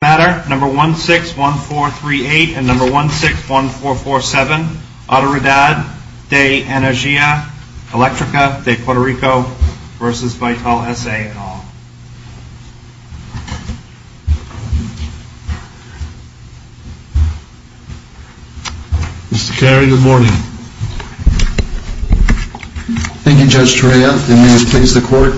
161438 and 161447, Autoridad de Energia Electrica de Puerto Rico v. Vitol S.A. et al. Mr. Carey, good morning. Thank you, Judge Torea. May it please the Court,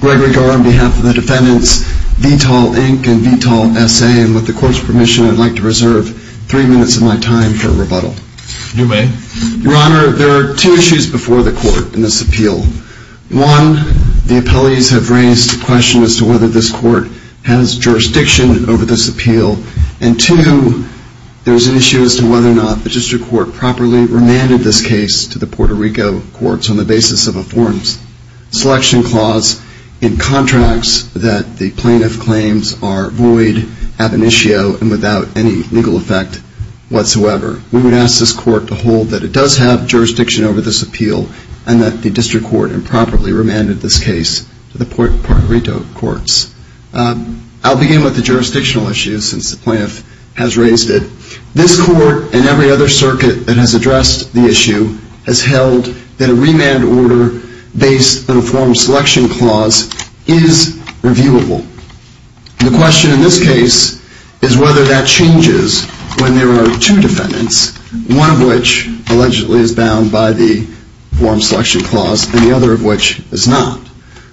Gregory Garre, on behalf of the defendants, Vitol Inc. and Vitol S.A. and with the Court's permission, I'd like to reserve three minutes of my time for a rebuttal. Do may. Your Honor, there are two issues before the Court in this appeal. One, the appellees have raised the question as to whether this Court has jurisdiction over this appeal. And two, there's an issue as to whether or not the District Court properly remanded this case to the Puerto Rico courts on the basis of a forms selection clause in contracts that the plaintiff claims are void, ab initio, and without any legal effect whatsoever. We would ask this Court to hold that it does have jurisdiction over this appeal and that the District Court improperly remanded this case to the Puerto Rico courts. I'll begin with the jurisdictional issues since the plaintiff has raised it. This Court and every other circuit that has addressed the issue has held that a remand order based on a forms selection clause is reviewable. The question in this case is whether that changes when there are two defendants, one of which allegedly is bound by the forms selection clause and the other of which is not.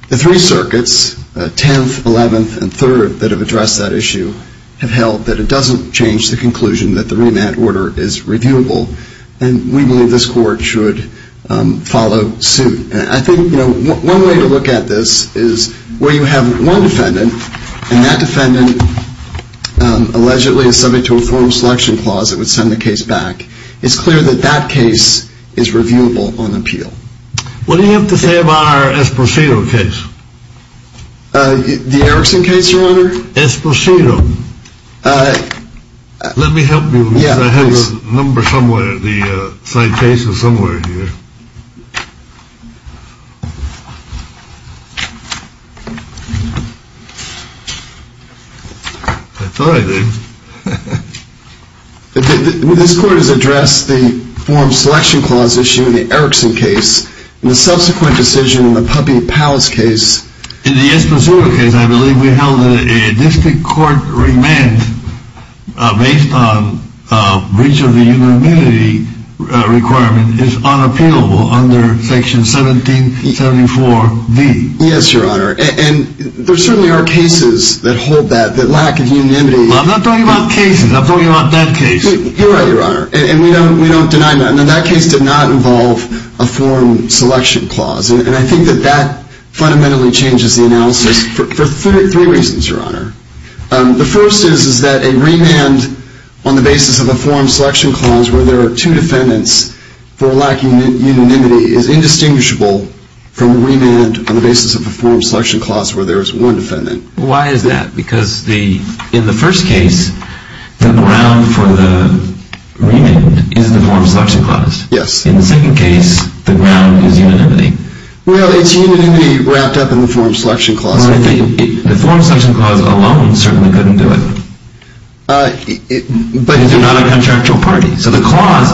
The three circuits, 10th, 11th, and 3rd, that have addressed that issue have held that it doesn't change the conclusion that the remand order is reviewable. And we believe this Court should follow suit. I think, you know, one way to look at this is where you have one defendant and that defendant allegedly is subject to a forms selection clause that would send the case back. It's clear that that case is reviewable on appeal. What do you have to say about our Esposito case? The Erickson case, Your Honor? Esposito. Let me help you. Yeah, please. I have the number somewhere, the citation somewhere here. I thought I did. This Court has addressed the forms selection clause issue in the Erickson case, and the subsequent decision in the Puppey-Powells case. In the Esposito case, I believe we held that a district court remand based on breach of the unanimity requirement is unappealable under section 1774B. Yes, Your Honor. And there certainly are cases that hold that, that lack of unanimity. I'm not talking about cases. I'm talking about that case. You're right, Your Honor. And we don't deny that. And that case did not involve a form selection clause. And I think that that fundamentally changes the analysis for three reasons, Your Honor. The first is that a remand on the basis of a form selection clause where there are two defendants for lacking unanimity is indistinguishable from a remand on the basis of a form selection clause where there is one defendant. Why is that? Because in the first case, the ground for the remand is the form selection clause. Yes. In the second case, the ground is unanimity. Well, it's unanimity wrapped up in the form selection clause. The form selection clause alone certainly couldn't do it. But it's not a contractual party. So the clause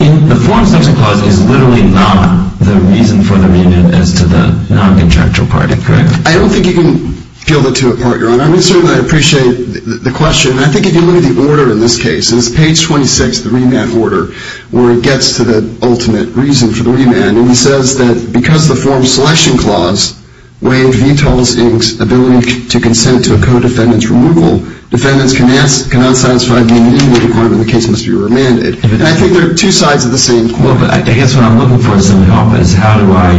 in the form selection clause is literally not the reason for the remand as to the non-contractual party, correct? I don't think you can feel the two apart, Your Honor. I mean, certainly I appreciate the question. And I think if you look at the order in this case, it's page 26, the remand order, where it gets to the ultimate reason for the remand. And he says that because the form selection clause waived VTOL's ability to consent to a co-defendant's removal, defendants cannot satisfy the unanimity requirement, the case must be remanded. And I think they're two sides of the same coin. Well, but I guess what I'm looking for is some help is how do I,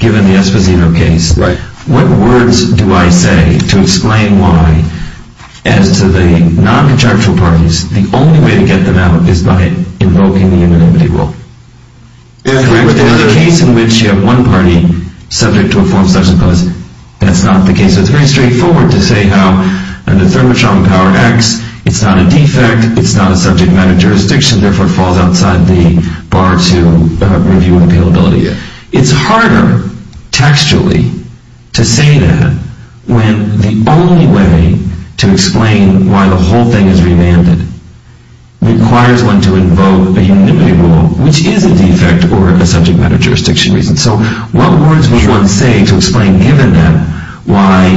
given the Esposito case, what words do I say to explain why, as to the non-contractual parties, the only way to get them out is by invoking the unanimity rule? But there's a case in which you have one party subject to a form selection clause. That's not the case. It's very straightforward to say how under thermotron power X, it's not a defect, it's not a subject matter of jurisdiction, therefore it falls outside the bar to review and appealability. It's harder textually to say that when the only way to explain why the whole thing is remanded requires one to invoke a unanimity rule, which is a defect or a subject matter of jurisdiction reason. So what words would one say to explain, given that, why,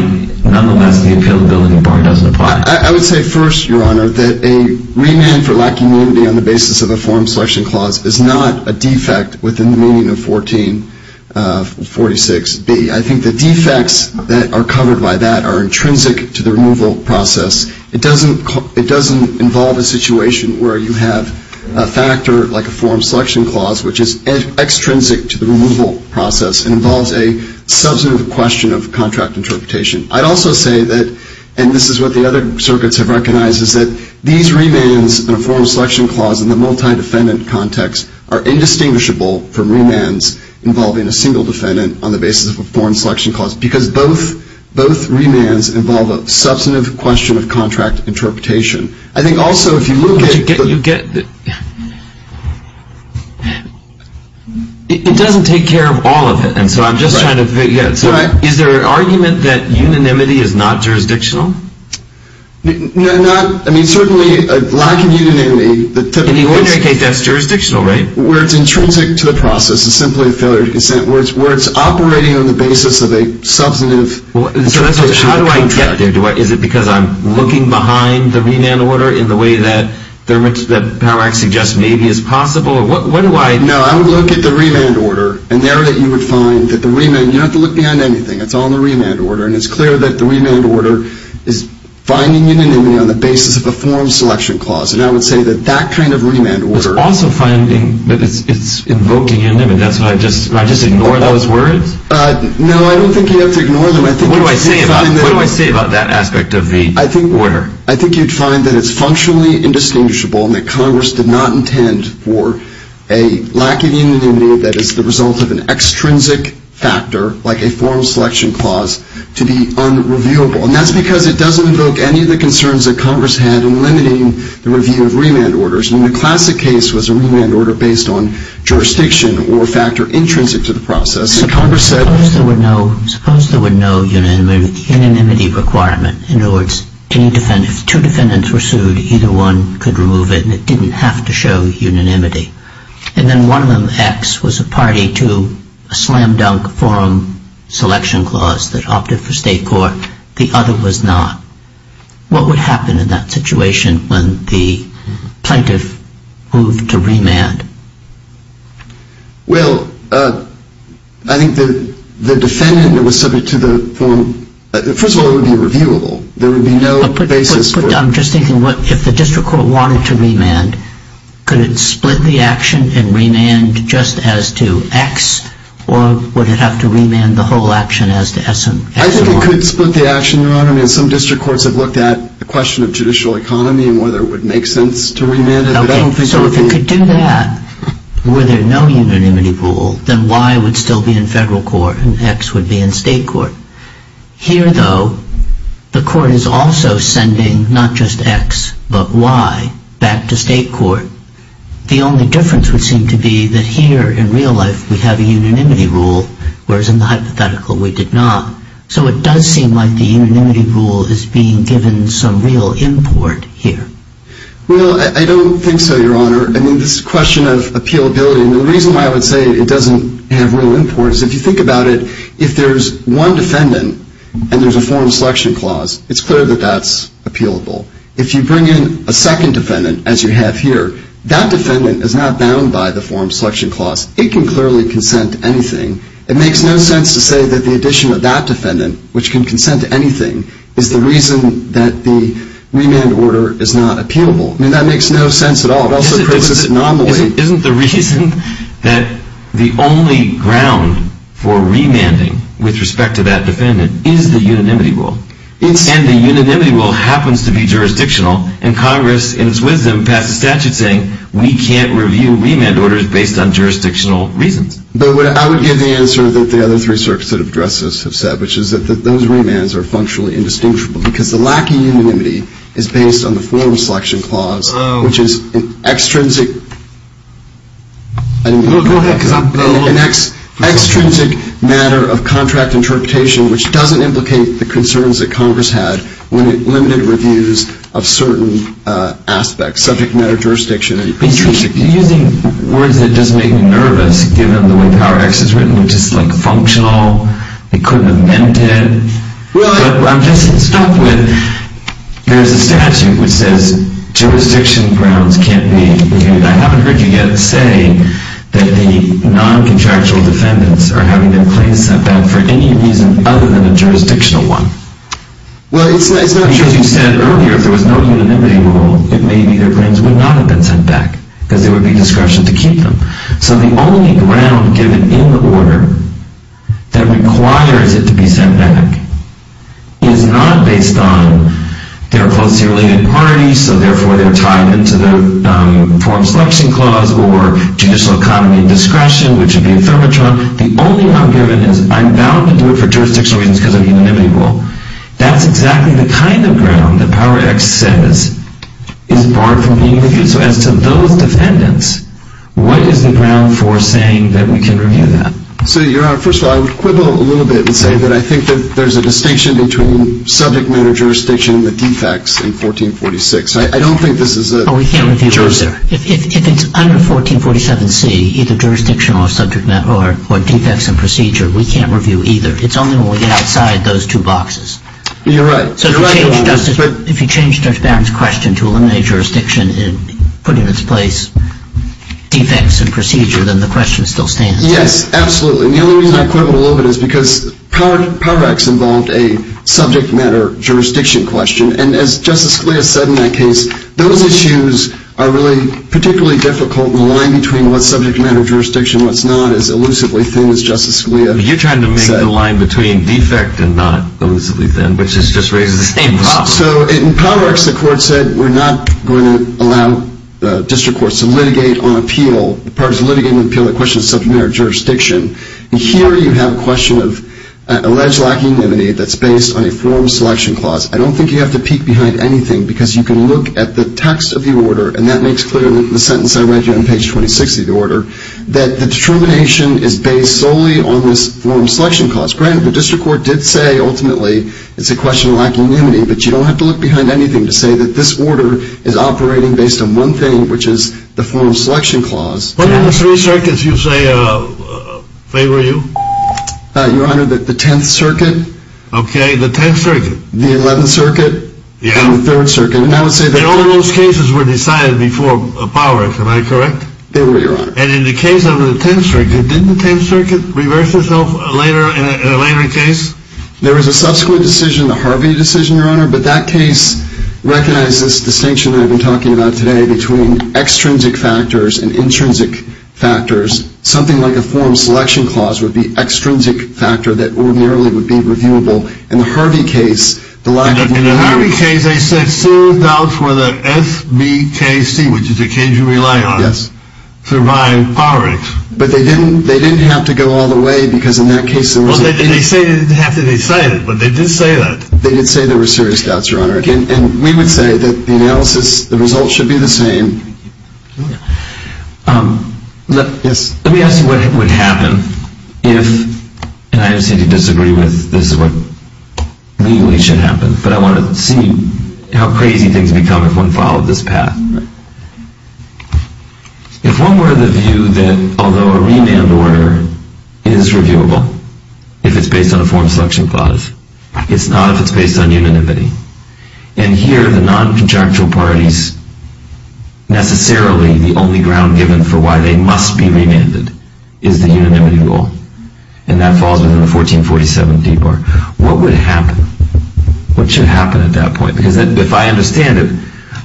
nonetheless, the appealability bar doesn't apply? I would say first, Your Honor, that a remand for lack of unanimity on the basis of a form selection clause is not a defect within the meaning of 1446B. I think the defects that are covered by that are intrinsic to the removal process. It doesn't involve a situation where you have a factor like a form selection clause, which is extrinsic to the removal process and involves a substantive question of contract interpretation. I'd also say that, and this is what the other circuits have recognized, is that these remands and a form selection clause in the multi-defendant context are indistinguishable from remands involving a single defendant on the basis of a form selection clause because both remands involve a substantive question of contract interpretation. I think also, if you look at the... But you get... It doesn't take care of all of it, and so I'm just trying to figure out, so is there an argument that unanimity is not jurisdictional? No, not... I mean, certainly a lack of unanimity... In the ordinary case, that's jurisdictional, right? Where it's intrinsic to the process is simply a failure to consent, where it's operating on the basis of a substantive... So that's what... How do I get there? Is it because I'm looking behind the remand order in the way that Power Act suggests maybe is possible? What do I... No, I would look at the remand order, and there you would find that the remand... You don't have to look behind anything. It's all in the remand order, and it's clear that the remand order is finding unanimity on the basis of a form selection clause, and I would say that that kind of remand order... It's also finding that it's invoking unanimity. That's why I just... Do I just ignore those words? No, I don't think you have to ignore them. I think you'd find that... What do I say about that aspect of the order? I think you'd find that it's functionally indistinguishable and that Congress did not intend for a lack of unanimity that is the result of an extrinsic factor, like a form selection clause, to be unreviewable, and that's because it doesn't invoke any of the concerns that Congress had in limiting the review of remand orders. I mean, the classic case was a remand order based on jurisdiction or a factor intrinsic to the process, and Congress said... Suppose there were no unanimity requirement. In other words, if two defendants were sued, either one could remove it, and it didn't have to show unanimity. And then one of them, X, was a party to a slam-dunk forum selection clause that opted for state court. The other was not. What would happen in that situation when the plaintiff moved to remand? Well, I think the defendant that was subject to the form... First of all, it would be reviewable. There would be no basis for... I'm just thinking, if the district court wanted to remand, could it split the action and remand just as to X, or would it have to remand the whole action as to S and Y? I think it could split the action, Your Honor. I mean, some district courts have looked at the question of judicial economy and whether it would make sense to remand it. Okay, so if it could do that, were there no unanimity rule, then Y would still be in federal court and X would be in state court. Here, though, the court is also sending not just X but Y back to state court. The only difference would seem to be that here, in real life, we have a unanimity rule, whereas in the hypothetical we did not. So it does seem like the unanimity rule is being given some real import here. Well, I don't think so, Your Honor. I mean, this question of appealability... The reason why I would say it doesn't have real import is if you think about it, if there's one defendant and there's a form of selection clause, it's clear that that's appealable. If you bring in a second defendant, as you have here, that defendant is not bound by the form of selection clause. It can clearly consent to anything. It makes no sense to say that the addition of that defendant, which can consent to anything, is the reason that the remand order is not appealable. I mean, that makes no sense at all. Isn't the reason that the only ground for remanding with respect to that defendant is the unanimity rule? And the unanimity rule happens to be jurisdictional, and Congress, in its wisdom, passed a statute saying we can't review remand orders based on jurisdictional reasons. But I would give the answer that the other three circuits that have addressed this have said, which is that those remands are functionally indistinguishable because the lack of unanimity is based on the form of selection clause, which is an extrinsic matter of contract interpretation, which doesn't implicate the concerns that Congress had when it limited reviews of certain aspects, subject matter, jurisdiction, and jurisdiction. You're using words that just make me nervous, given the way Power X is written, which is, like, functional. They couldn't have meant it. Really? But I'm just stuck with there's a statute which says jurisdiction grounds can't be reviewed. I haven't heard you yet say that the noncontractual defendants are having their claims sent back for any reason other than a jurisdictional one. Well, it's not true. Because you said earlier if there was no unanimity rule, it may be their claims would not have been sent back because there would be discretion to keep them. So the only ground given in the order that requires it to be sent back is not based on they're a closely related party, so therefore they're tied into the form of selection clause or judicial economy and discretion, which would be a thermotron. The only ground given is I'm bound to do it for jurisdictional reasons because of the unanimity rule. That's exactly the kind of ground that Power X says is barred from being reviewed. So as to those defendants, what is the ground for saying that we can review that? So, Your Honor, first of all, I would quibble a little bit and say that I think that there's a distinction between subject matter jurisdiction and the defects in 1446. I don't think this is a jurisdiction. Oh, we can't review either. If it's under 1447C, either jurisdiction or subject matter or defects in procedure, we can't review either. It's only when we get outside those two boxes. You're right. If you change Judge Barron's question to eliminate jurisdiction and put in its place defects in procedure, then the question still stands. Yes, absolutely. And the only reason I quibble a little bit is because Power X involved a subject matter jurisdiction question. And as Justice Scalia said in that case, those issues are really particularly difficult in the line between what's subject matter jurisdiction and what's not as elusively thin as Justice Scalia said. You're trying to make the line between defect and not elusively thin, which is just raising the stakes. So in Power X, the court said, we're not going to allow the district courts to litigate on appeal. As far as litigating on appeal, the question is subject matter jurisdiction. And here you have a question of alleged lack of anonymity that's based on a form selection clause. I don't think you have to peek behind anything because you can look at the text of the order, and that makes clear in the sentence I read you on page 26 of the order, that the determination is based solely on this form selection clause. Granted, the district court did say, ultimately, it's a question of lack of anonymity, but you don't have to look behind anything to say that this order is operating based on one thing, which is the form selection clause. What are the three circuits you say favor you? Your Honor, the Tenth Circuit. Okay, the Tenth Circuit. The Eleventh Circuit. Yeah. And the Third Circuit. And all of those cases were decided before Power, am I correct? They were, Your Honor. And in the case of the Tenth Circuit, didn't the Tenth Circuit reverse itself later in a case? There was a subsequent decision, the Harvey decision, Your Honor, but that case recognizes this distinction that I've been talking about today between extrinsic factors and intrinsic factors. Something like a form selection clause would be extrinsic factor that ordinarily would be reviewable. In the Harvey case, the lack of anonymity. In the Harvey case, they said, There were serious doubts whether SBKC, which is the case you rely on, survived poverty. But they didn't have to go all the way because in that case there was a Well, they say they didn't have to decide it, but they did say that. They did say there were serious doubts, Your Honor, and we would say that the analysis, the results should be the same. Let me ask you what would happen if, and I understand you disagree with this is what legally should happen, but I want to see how crazy things become if one followed this path. If one were to view that although a remand order is reviewable, if it's based on a form selection clause, it's not if it's based on unanimity. And here the non-conjunctural parties, necessarily the only ground given for why they must be remanded, is the unanimity rule. And that falls within the 1447 D part. What would happen? What should happen at that point? Because if I understand it,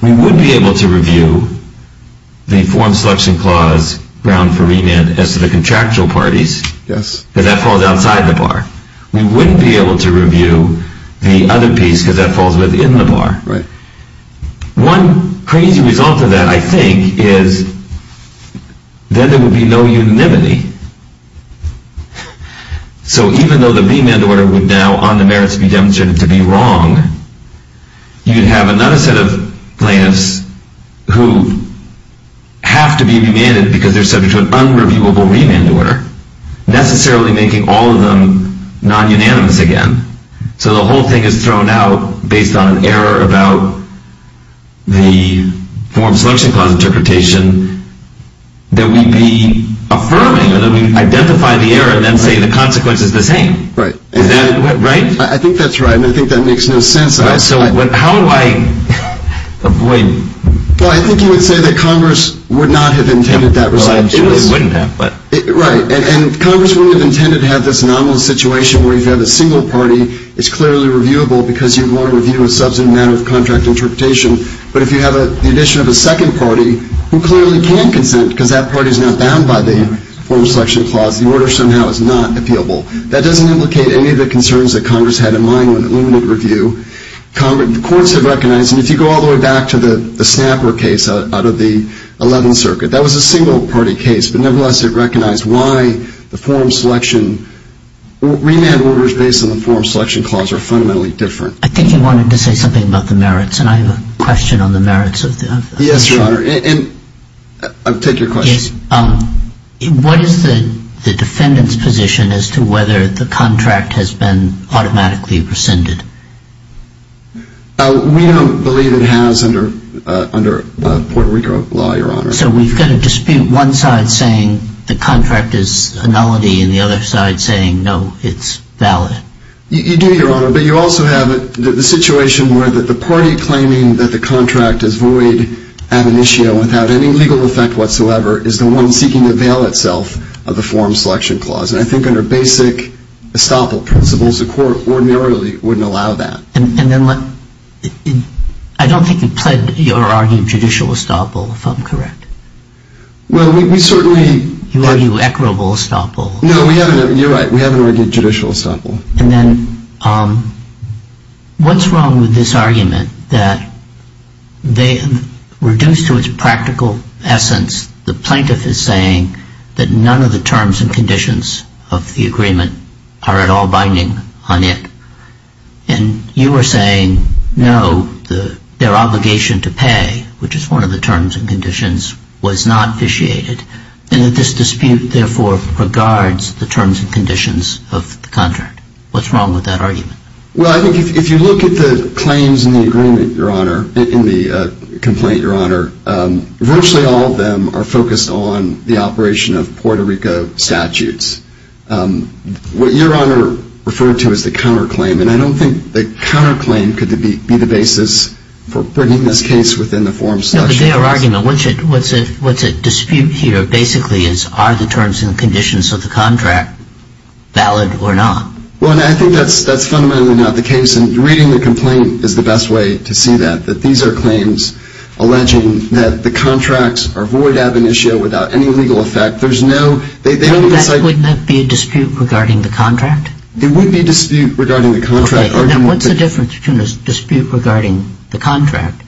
we would be able to review the form selection clause ground for remand as to the contractual parties. Yes. But that falls outside the bar. We wouldn't be able to review the other piece because that falls within the bar. Right. One crazy result of that, I think, is then there would be no unanimity. So even though the remand order would now on the merits be demonstrated to be wrong, you'd have another set of plaintiffs who have to be remanded because they're subject to an unreviewable remand order, necessarily making all of them non-unanimous again. So the whole thing is thrown out based on an error about the form selection clause interpretation that we'd be affirming or that we'd identify the error and then say the consequence is the same. Right. Is that right? I think that's right, and I think that makes no sense. So how do I avoid? Well, I think you would say that Congress would not have intended that result. Well, it wouldn't have, but. Right. And Congress wouldn't have intended to have this anomalous situation where you've got a single party that's clearly reviewable because you'd want to review a substantive matter of contract interpretation. But if you have the addition of a second party who clearly can consent because that party's not bound by the form selection clause, the order somehow is not appealable. That doesn't implicate any of the concerns that Congress had in mind when it limited review. The courts have recognized, and if you go all the way back to the Snapper case out of the 11th Circuit, that was a single-party case, but nevertheless it recognized why the form selection, remand orders based on the form selection clause are fundamentally different. I think you wanted to say something about the merits, and I have a question on the merits of that. Yes, Your Honor, and I'll take your question. Yes. What is the defendant's position as to whether the contract has been automatically rescinded? We don't believe it has under Puerto Rico law, Your Honor. So we've got a dispute, one side saying the contract is a nullity and the other side saying, no, it's valid. You do, Your Honor, but you also have the situation where the party claiming that the contract is void ad initio without any legal effect whatsoever is the one seeking to veil itself of the form selection clause. And I think under basic estoppel principles, the court ordinarily wouldn't allow that. And then I don't think you pled your argued judicial estoppel, if I'm correct. Well, we certainly You argued equitable estoppel. No, you're right, we haven't argued judicial estoppel. And then what's wrong with this argument that reduced to its practical essence, the plaintiff is saying that none of the terms and conditions of the agreement are at all binding on it, and you are saying, no, their obligation to pay, which is one of the terms and conditions, was not vitiated, and that this dispute, therefore, regards the terms and conditions of the contract. What's wrong with that argument? Well, I think if you look at the claims in the agreement, Your Honor, in the complaint, Your Honor, virtually all of them are focused on the operation of Puerto Rico statutes. What Your Honor referred to is the counterclaim, and I don't think the counterclaim could be the basis for bringing this case within the form selection clause. But your argument, what's at dispute here, basically, is are the terms and conditions of the contract valid or not? Well, I think that's fundamentally not the case, and reading the complaint is the best way to see that, that these are claims alleging that the contracts are void ab initio without any legal effect. There's no Wouldn't that be a dispute regarding the contract? It would be a dispute regarding the contract. Then what's the difference between a dispute regarding the contract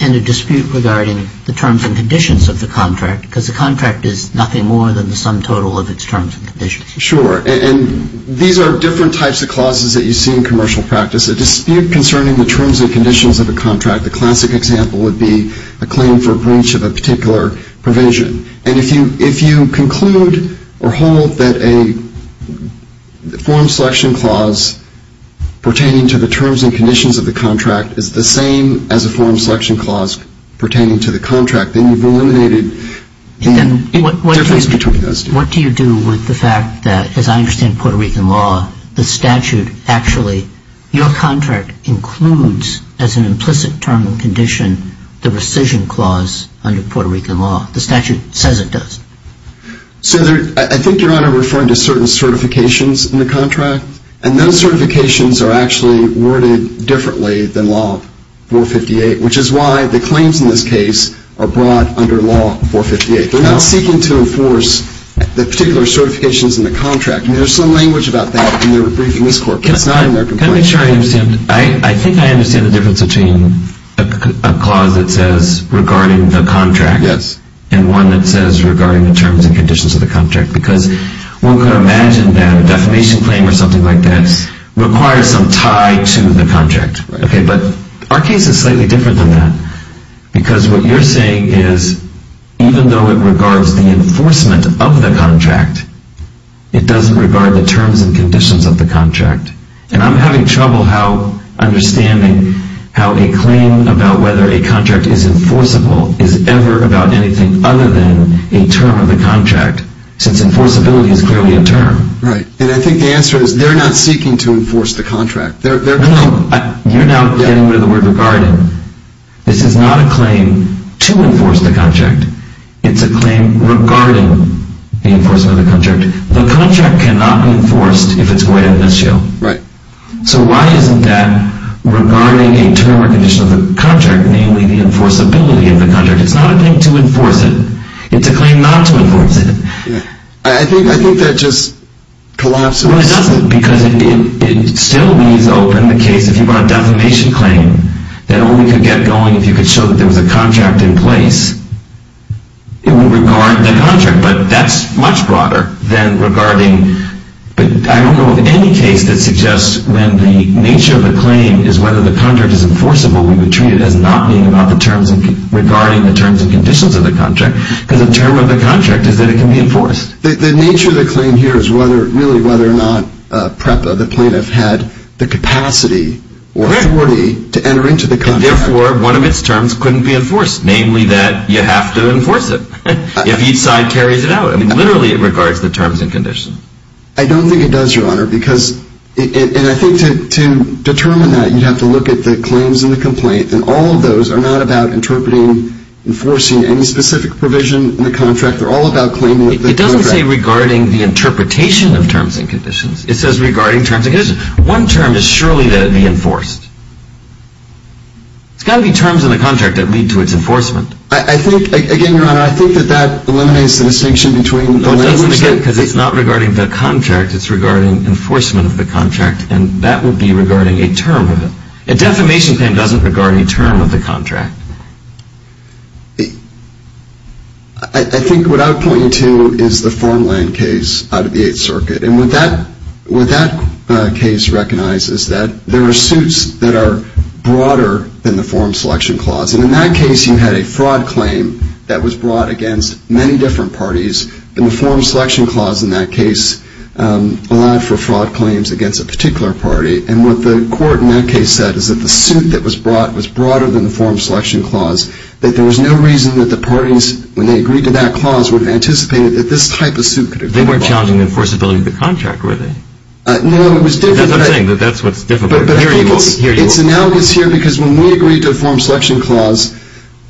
and a dispute regarding the terms and conditions of the contract? Because the contract is nothing more than the sum total of its terms and conditions. Sure. And these are different types of clauses that you see in commercial practice. A dispute concerning the terms and conditions of a contract, the classic example, would be a claim for breach of a particular provision. And if you conclude or hold that a form selection clause pertaining to the terms and conditions of the contract is the same as a form selection clause pertaining to the contract, then you've eliminated the difference between those two. What do you do with the fact that, as I understand Puerto Rican law, the statute actually, your contract includes, as an implicit term and condition, the rescission clause under Puerto Rican law. The statute says it does. So I think, Your Honor, referring to certain certifications in the contract. And those certifications are actually worded differently than law 458, which is why the claims in this case are brought under law 458. They're not seeking to enforce the particular certifications in the contract. There's some language about that in their brief in this court, but it's not in their complaint. Can I make sure I understand? I think I understand the difference between a clause that says regarding the contract and one that says regarding the terms and conditions of the contract. Because one could imagine that a defamation claim or something like that requires some tie to the contract. But our case is slightly different than that. Because what you're saying is, even though it regards the enforcement of the contract, it doesn't regard the terms and conditions of the contract. And I'm having trouble understanding how a claim about whether a contract is enforceable is ever about anything other than a term of the contract, since enforceability is clearly a term. Right. And I think the answer is they're not seeking to enforce the contract. No, no. You're now getting rid of the word regarding. This is not a claim to enforce the contract. It's a claim regarding the enforcement of the contract. The contract cannot be enforced if it's going to be in this jail. Right. So why isn't that regarding a term or condition of the contract, namely the enforceability of the contract? It's not a thing to enforce it. It's a claim not to enforce it. I think that just collapses. Well, it doesn't because it still leaves open the case. If you brought a defamation claim that only could get going if you could show that there was a contract in place, it would regard the contract. But that's much broader than regarding. I don't know of any case that suggests when the nature of the claim is whether the contract is enforceable, we would treat it as not being about the terms regarding the terms and conditions of the contract because the term of the contract is that it can be enforced. The nature of the claim here is really whether or not PREPA, the plaintiff, had the capacity or authority to enter into the contract. And therefore, one of its terms couldn't be enforced, namely that you have to enforce it if each side carries it out. I mean, literally, it regards the terms and conditions. I don't think it does, Your Honor. And I think to determine that, you'd have to look at the claims and the complaint. And all of those are not about interpreting, enforcing any specific provision in the contract. They're all about claiming the contract. It doesn't say regarding the interpretation of terms and conditions. It says regarding terms and conditions. One term is surely to be enforced. It's got to be terms in the contract that lead to its enforcement. I think, again, Your Honor, I think that that eliminates the distinction between the language that No, it doesn't, again, because it's not regarding the contract. It's regarding enforcement of the contract. And that would be regarding a term of it. A defamation claim doesn't regard any term of the contract. I think what I would point you to is the Formland case out of the Eighth Circuit. And what that case recognizes is that there are suits that are broader than the Form Selection Clause. And in that case, you had a fraud claim that was brought against many different parties. And the Form Selection Clause in that case allowed for fraud claims against a particular party. And what the court in that case said is that the suit that was brought was broader than the Form Selection Clause, that there was no reason that the parties, when they agreed to that clause, would have anticipated that this type of suit could have been brought. They weren't challenging the enforceability of the contract, were they? No, it was different. That's what I'm saying, that that's what's different. It's analogous here because when we agreed to a Form Selection Clause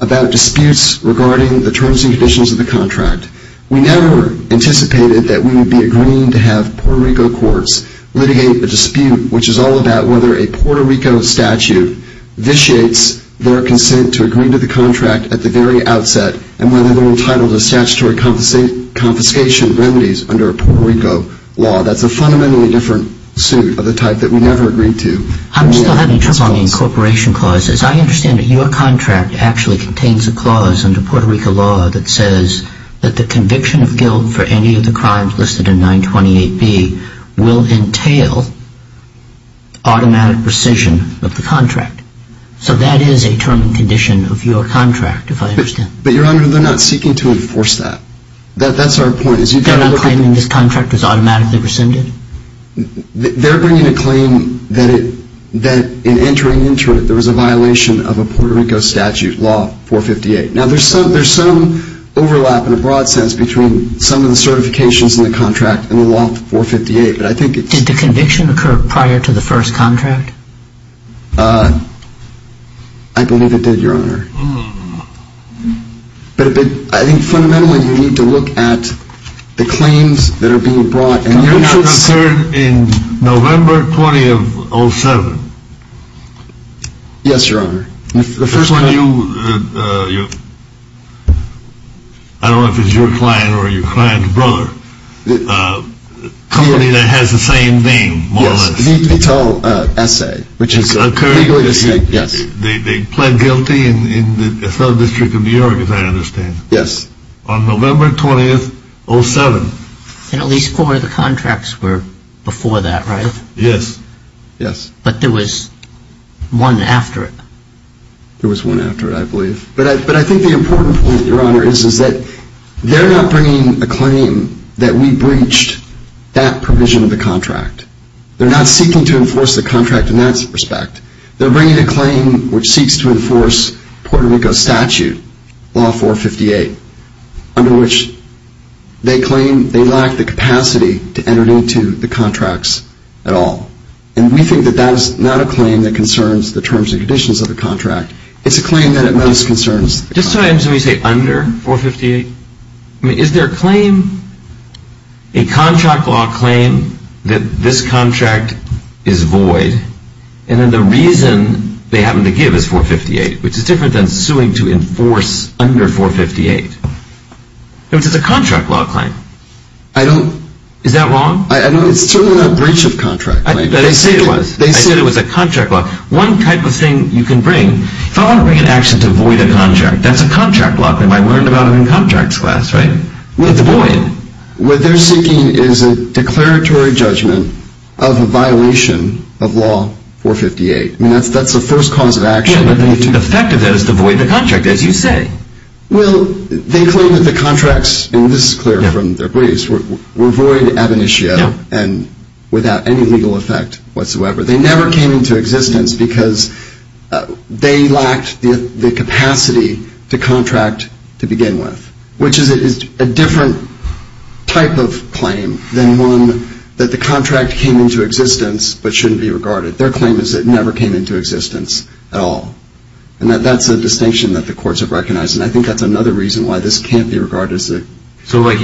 about disputes regarding the terms and conditions of the contract, we never anticipated that we would be agreeing to have Puerto Rico courts litigate a dispute which is all about whether a Puerto Rico statute vitiates their consent to agree to the contract at the very outset and whether they're entitled to statutory confiscation remedies under a Puerto Rico law. That's a fundamentally different suit of the type that we never agreed to. I'm still having trouble on the incorporation clauses. I understand that your contract actually contains a clause under Puerto Rico law that says that the conviction of guilt for any of the crimes listed in 928B will entail automatic rescission of the contract. So that is a term and condition of your contract, if I understand. But, Your Honor, they're not seeking to enforce that. That's our point. They're not claiming this contract was automatically rescinded? They're bringing a claim that in entering into it, there was a violation of a Puerto Rico statute, Law 458. Now, there's some overlap in a broad sense between some of the certifications in the contract and the Law 458. Did the conviction occur prior to the first contract? I believe it did, Your Honor. But I think fundamentally you need to look at the claims that are being brought in. Your contract occurred in November 20 of 07. Yes, Your Honor. The first one you, I don't know if it's your client or your client's brother. A company that has the same name, more or less. Yes, Vito Ese, which is legally the same. They pled guilty in the Federal District of New York, as I understand. Yes. On November 20, 07. And at least four of the contracts were before that, right? Yes, yes. But there was one after it. There was one after it, I believe. But I think the important point, Your Honor, is that they're not bringing a claim that we breached that provision of the contract. They're not seeking to enforce the contract in that respect. They're bringing a claim which seeks to enforce Puerto Rico statute, Law 458, under which they claim they lack the capacity to enter into the contracts at all. And we think that that is not a claim that concerns the terms and conditions of the contract. It's a claim that it most concerns. Just so I understand when you say under 458. I mean, is there a claim, a contract law claim, that this contract is void, and then the reason they happen to give is 458, which is different than suing to enforce under 458. In other words, it's a contract law claim. I don't. Is that wrong? I don't. It's certainly not a breach of contract. They say it was. They say it was. I said it was a contract law. One type of thing you can bring, if I want to bring an action to void a contract, that's a contract law claim. I learned about it in contracts class, right? Well, it's a void. What they're seeking is a declaratory judgment of a violation of Law 458. I mean, that's the first cause of action. Yeah, but the effect of that is to void the contract, as you say. Well, they claim that the contracts, and this is clear from their briefs, were void ab initio, and without any legal effect whatsoever. They never came into existence because they lacked the capacity to contract to begin with, which is a different type of claim than one that the contract came into existence but shouldn't be regarded. Their claim is it never came into existence at all. And that's a distinction that the courts have recognized, and I think that's another reason why this can't be regarded as a... Well, it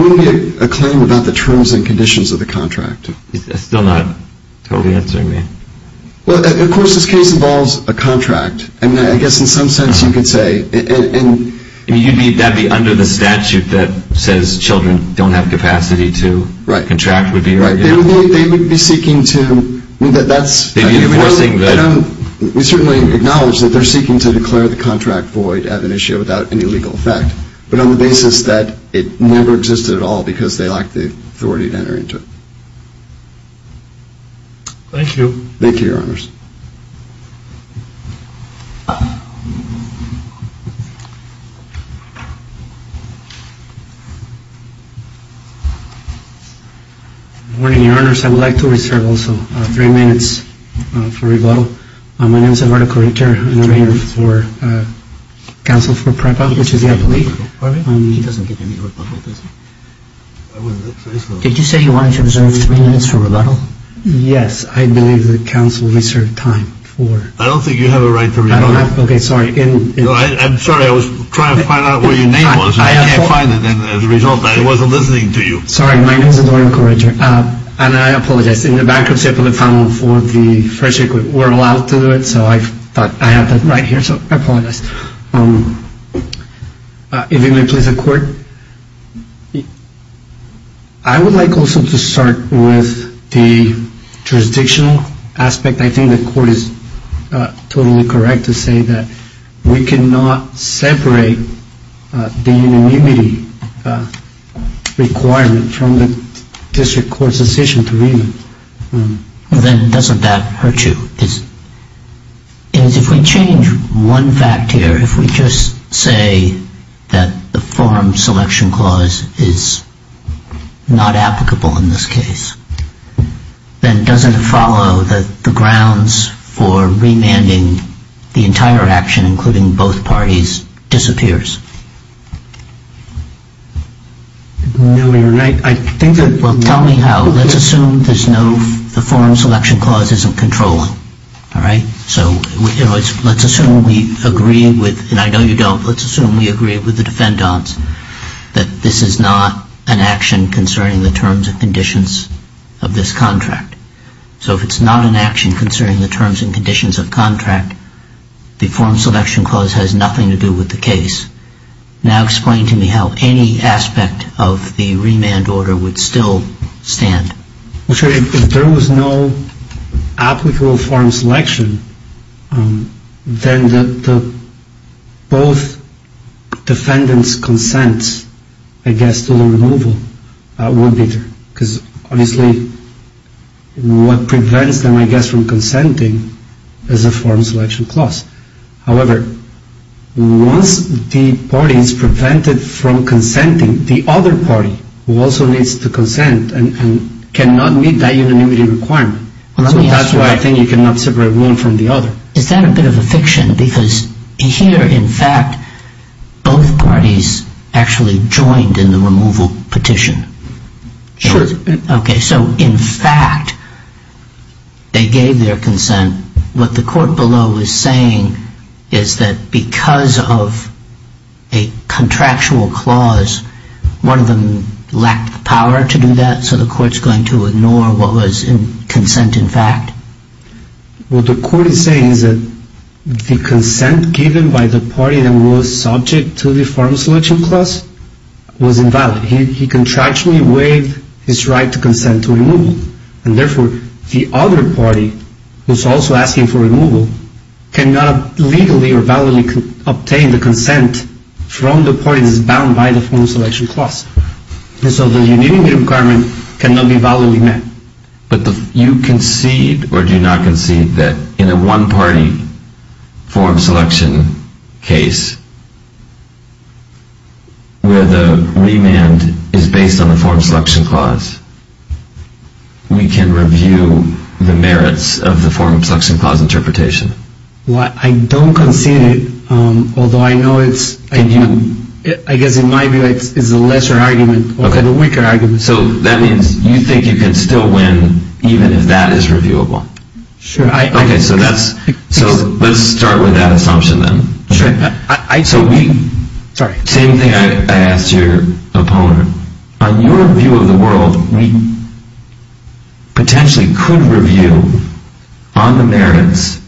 wouldn't be a claim about the terms and conditions of the contract. That's still not totally answering me. Well, of course, this case involves a contract, and I guess in some sense you could say... I mean, you'd be, that'd be under the statute that says children don't have capacity to... Right. Contract would be... Right. They would be seeking to... That's... Enforcing the... We certainly acknowledge that they're seeking to declare the contract void ab initio without any legal effect, but on the basis that it never existed at all because they lacked the authority to enter into it. Thank you. Thank you, Your Honors. Good morning, Your Honors. I would like to reserve also three minutes for rebuttal. My name is Eduardo Corrector, and I'm here for counsel for PREPA, which is the appellate. Did you say you wanted to reserve three minutes for rebuttal? Yes. I believe that counsel reserved time for... I don't think you have a right to rebuttal. I don't have. Okay, sorry. I'm sorry. I was trying to find out what your name was. I can't find it, and as a result, I wasn't listening to you. Sorry. My name is Eduardo Corrector, and I apologize. In the bankruptcy appellate file for the first record, we're allowed to do it, so I thought I had that right here, so I apologize. If you may, please, the Court. I would like also to start with the jurisdictional aspect. I think the Court is totally correct to say that we cannot separate the unanimity requirement from the district court's decision to rebut. Then doesn't that hurt you? If we change one fact here, if we just say that the forum selection clause is not applicable in this case, then doesn't it follow that the grounds for remanding the entire action, including both parties, disappears? No, Your Honor. I think that... Well, tell me how. Let's assume there's no... the forum selection clause isn't controlling, all right? So let's assume we agree with... and I know you don't. Let's assume we agree with the defendants that this is not an action concerning the terms and conditions of this contract. So if it's not an action concerning the terms and conditions of contract, the forum selection clause has nothing to do with the case. Now explain to me how any aspect of the remand order would still stand. Well, Your Honor, if there was no applicable forum selection, then both defendants' consents, I guess, to the removal would be there. Because, obviously, what prevents them, I guess, from consenting is the forum selection clause. However, once the party is prevented from consenting, the other party also needs to consent and cannot meet that unanimity requirement. So that's why I think you cannot separate one from the other. Is that a bit of a fiction? Because here, in fact, both parties actually joined in the removal petition. Sure. Okay, so in fact, they gave their consent. What the court below is saying is that because of a contractual clause, one of them lacked the power to do that, so the court's going to ignore what was in consent, in fact? What the court is saying is that the consent given by the party that was subject to the forum selection clause was invalid. He contractually waived his right to consent to removal. And, therefore, the other party, who is also asking for removal, cannot legally or validly obtain the consent from the party that is bound by the forum selection clause. And so the unanimity requirement cannot be validly met. But you concede or do not concede that in a one-party forum selection case where the remand is based on the forum selection clause, we can review the merits of the forum selection clause interpretation? Well, I don't concede it, although I know it's, I guess in my view, it's a lesser argument over the weaker argument. So that means you think you can still win even if that is reviewable? Sure. Okay, so let's start with that assumption then. Sure. So we... Sorry. Same thing I asked your opponent. On your view of the world, we potentially could review on the merits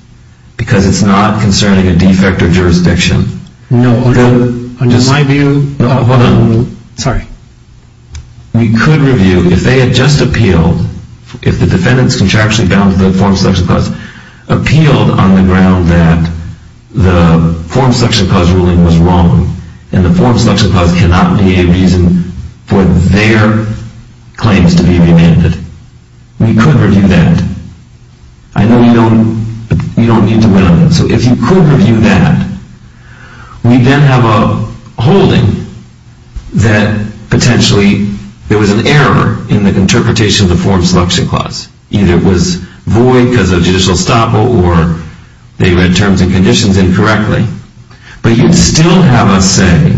because it's not concerning a defect or jurisdiction. No, in my view... Hold on. Sorry. We could review if they had just appealed, if the defendant's contraction bound to the forum selection clause appealed on the ground that the forum selection clause ruling was wrong and the forum selection clause cannot be a reason for their claims to be remanded. We could review that. I know you don't need to win on that. So if you could review that, we then have a holding that potentially there was an error in the interpretation of the forum selection clause. Either it was void because of judicial estoppel or they read terms and conditions incorrectly. But you'd still have us say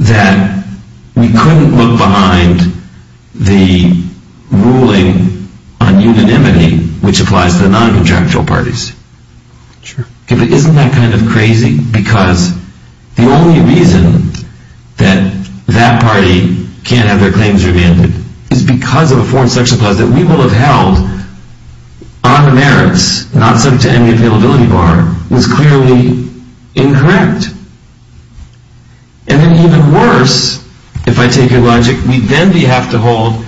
that we couldn't look behind the ruling on unanimity which applies to the non-contractual parties. Sure. Isn't that kind of crazy? Because the only reason that that party can't have their claims remanded is because of a forum selection clause that we will have held on the merits, not subject to any availability bar, was clearly incorrect. And then even worse, if I take your logic, we then have to hold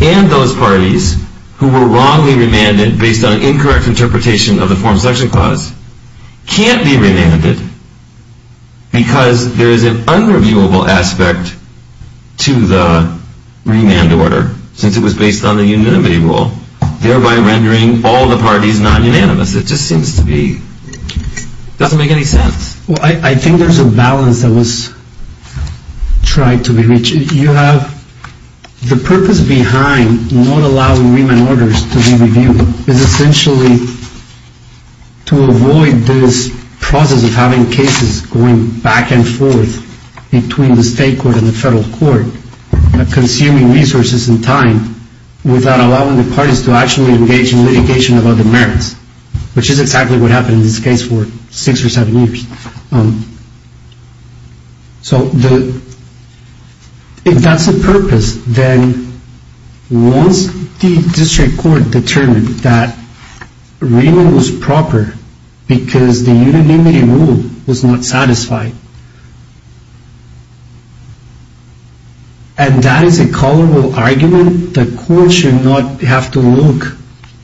and those parties who were wrongly remanded based on incorrect interpretation of the forum selection clause can't be remanded because there is an unreviewable aspect to the remand order since it was based on the unanimity rule, thereby rendering all the parties non-unanimous. It just seems to be, doesn't make any sense. Well, I think there's a balance that was tried to be reached. You have the purpose behind not allowing remand orders to be reviewed is essentially to avoid this process of having cases going back and forth between the state court and the federal court consuming resources and time without allowing the parties to actually engage in litigation about the merits, which is exactly what happened in this case for six or seven years. So, if that's the purpose, then once the district court determined that remand was proper because the unanimity rule was not satisfied, and that is a callable argument, the court should not have to look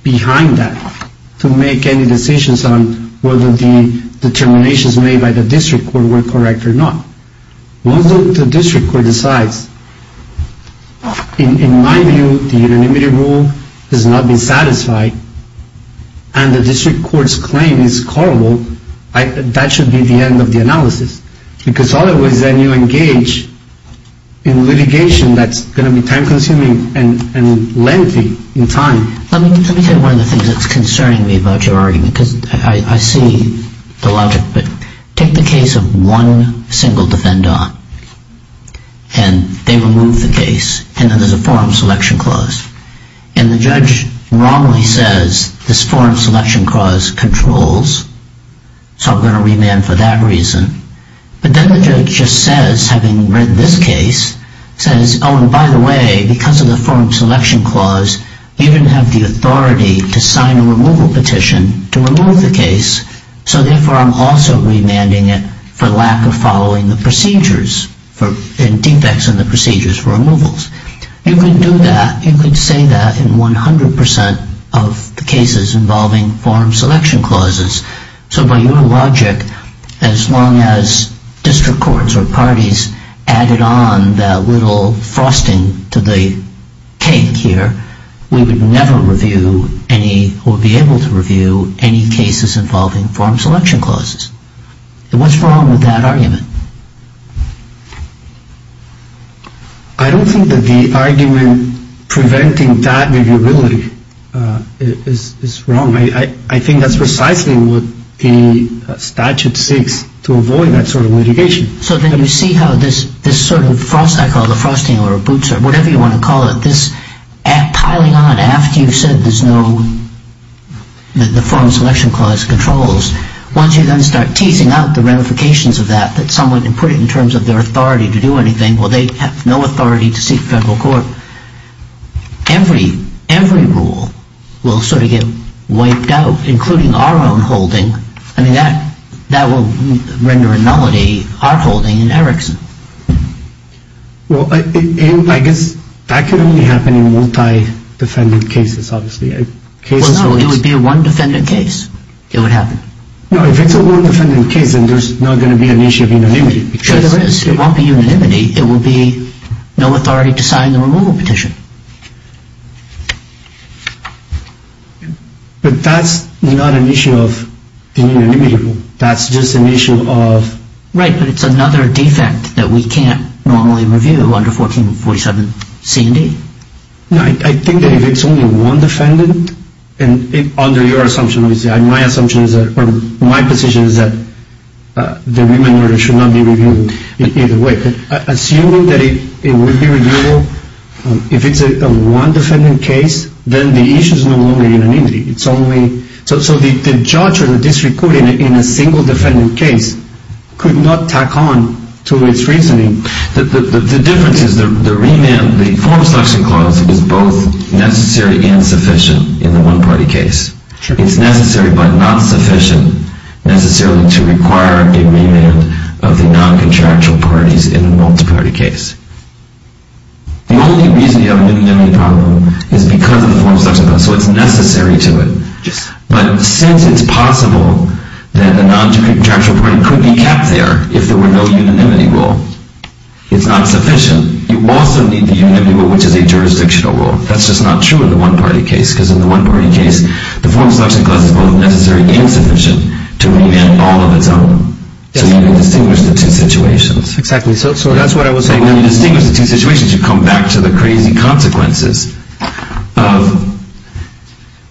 behind that to make any decisions on whether the determination is necessary. Whether the decisions made by the district court were correct or not. Once the district court decides, in my view, the unanimity rule has not been satisfied and the district court's claim is callable, that should be the end of the analysis because otherwise then you engage in litigation that's going to be time consuming and lengthy in time. Let me tell you one of the things that's concerning me about your argument because I see the logic, but take the case of one single defendant and they remove the case and then there's a forum selection clause. And the judge wrongly says this forum selection clause controls, so I'm going to remand for that reason. But then the judge just says, having read this case, says, oh, and by the way, because of the forum selection clause, you didn't have the authority to sign a removal petition to remove the case, so therefore I'm also remanding it for lack of following the procedures and defects in the procedures for removals. You could do that, you could say that in 100% of the cases involving forum selection clauses. So by your logic, as long as district courts or parties added on that little frosting to the cake here, we would never review any, or be able to review any cases involving forum selection clauses. What's wrong with that argument? I don't think that the argument preventing that reviewability is wrong. I think that's precisely what the statute seeks to avoid that sort of litigation. So then you see how this sort of, I call it the frosting or boots or whatever you want to call it, this piling on after you've said there's no, that the forum selection clause controls. Once you then start teasing out the ramifications of that, that someone can put it in terms of their authority to do anything, well, they have no authority to seek federal court. Every rule will sort of get wiped out, including our own holding. I mean, that will render a nullity, our holding in Erickson. Well, I guess that could only happen in multi-defendant cases, obviously. Well, no, it would be a one-defendant case. It would happen. No, if it's a one-defendant case, then there's not going to be an issue of unanimity. Sure there is. It won't be unanimity. It will be no authority to sign the removal petition. But that's not an issue of the unanimity rule. That's just an issue of... Right, but it's another defect that we can't normally review under 1447 C and D. No, I think that if it's only one defendant, and under your assumption, my assumption is that, or my position is that the remand order should not be reviewed either way. Assuming that it would be reviewed, if it's a one-defendant case, then the issue is no longer unanimity. It's only... So the judge or the district court in a single-defendant case could not tack on to its reasoning. The difference is the remand, the form of selection clause is both necessary and sufficient in the one-party case. Sure. It's necessary but not sufficient necessarily to require a remand of the non-contractual parties in a multi-party case. The only reason you have a unanimity problem is because of the form of selection clause. So it's necessary to it. But since it's possible that a non-contractual party could be kept there if there were no unanimity rule, it's not sufficient. You also need the unanimity rule, which is a jurisdictional rule. That's just not true in the one-party case, because in the one-party case, the form of selection clause is both necessary and sufficient to remand all of its own. So you can distinguish the two situations. Exactly. So that's what I was saying. When you distinguish the two situations, you come back to the crazy consequences of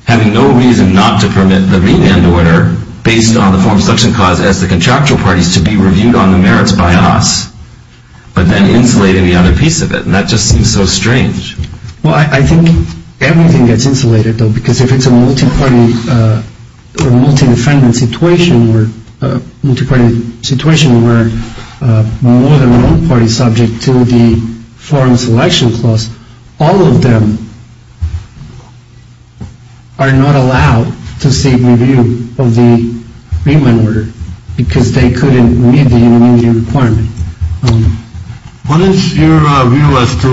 having no reason not to permit the remand order, based on the form of selection clause as the contractual parties, to be reviewed on the merits by us, but then insulating the other piece of it. And that just seems so strange. Well, I think everything gets insulated, though, because if it's a multi-party or multi-defendant situation, or a multi-party situation where more than one party is subject to the form of selection clause, all of them are not allowed to seek review of the remand order because they couldn't meet the unanimity requirement. What is your view as to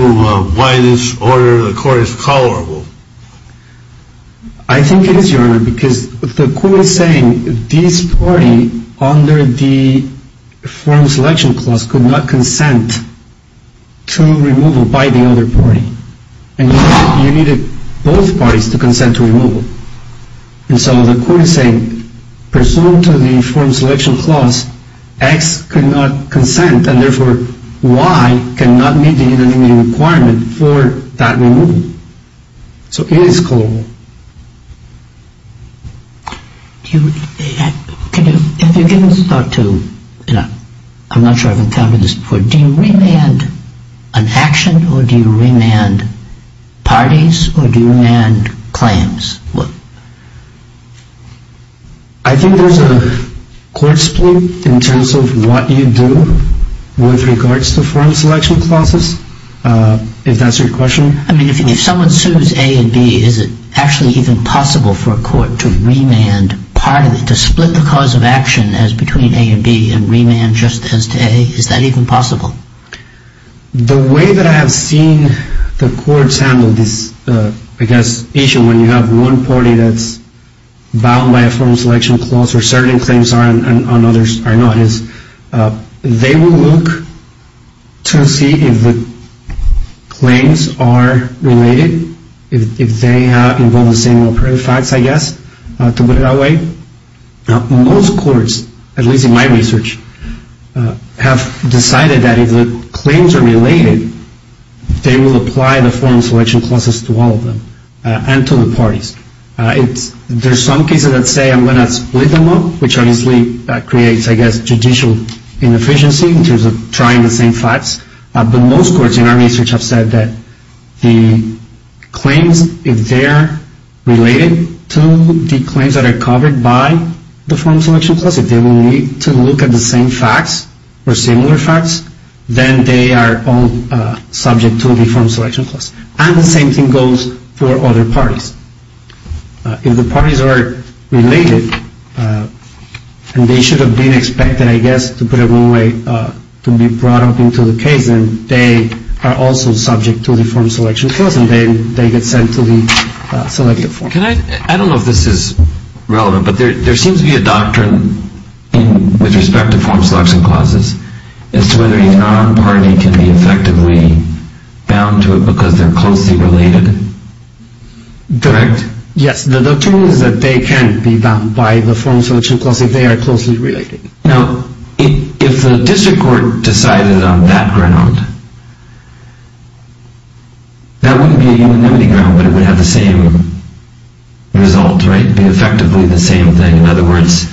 why this order, the court, is tolerable? I think it is, Your Honor, because the court is saying this party, under the form of selection clause, could not consent to removal by the other party, and you needed both parties to consent to removal. And so the court is saying, pursuant to the form of selection clause, X could not consent, and therefore Y cannot meet the unanimity requirement for that removal. So it is tolerable. If you're giving this thought to, I'm not sure I've encountered this before, do you remand an action or do you remand parties or do you remand claims? I think there's a court split in terms of what you do with regards to form of selection clauses, if that's your question. I mean, if someone sues A and B, is it actually even possible for a court to remand part of it, to split the cause of action as between A and B and remand just as to A? Is that even possible? The way that I have seen the courts handle this, I guess, issue when you have one party that's bound by a form of selection clause where certain claims are and others are not, is they will look to see if the claims are related, if they involve the same facts, I guess, to put it that way. Now, most courts, at least in my research, have decided that if the claims are related, they will apply the form of selection clauses to all of them and to the parties. There's some cases that say I'm going to split them up, which obviously creates, I guess, judicial inefficiency in terms of trying the same facts, but most courts in our research have said that the claims, if they're related to the claims that are covered by the form of selection clause, if they will need to look at the same facts or similar facts, then they are all subject to the form of selection clause. And the same thing goes for other parties. If the parties are related and they should have been expected, I guess, to put it one way, to be brought up into the case, then they are also subject to the form of selection clause and then they get sent to the selective form. I don't know if this is relevant, but there seems to be a doctrine with respect to form of selection clauses as to whether a non-party can be effectively bound to it because they're closely related. Correct? Yes, the doctrine is that they can be bound by the form of selection clause if they are closely related. Now, if the district court decided on that ground, that wouldn't be a unanimity ground, but it would have the same result, right, be effectively the same thing. In other words,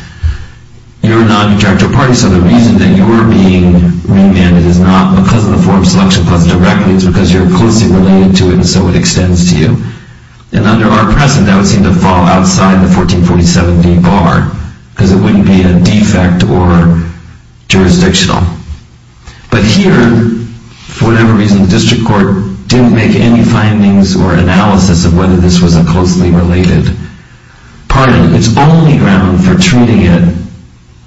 you're a non-contractual party, so the reason that you're being remanded is not because of the form of selection clause directly, it's because you're closely related to it and so it extends to you. And under our precedent, that would seem to fall outside the 1447d bar because it wouldn't be a defect or jurisdictional. But here, for whatever reason, the district court didn't make any findings or analysis of whether this was a closely related party. Its only ground for treating it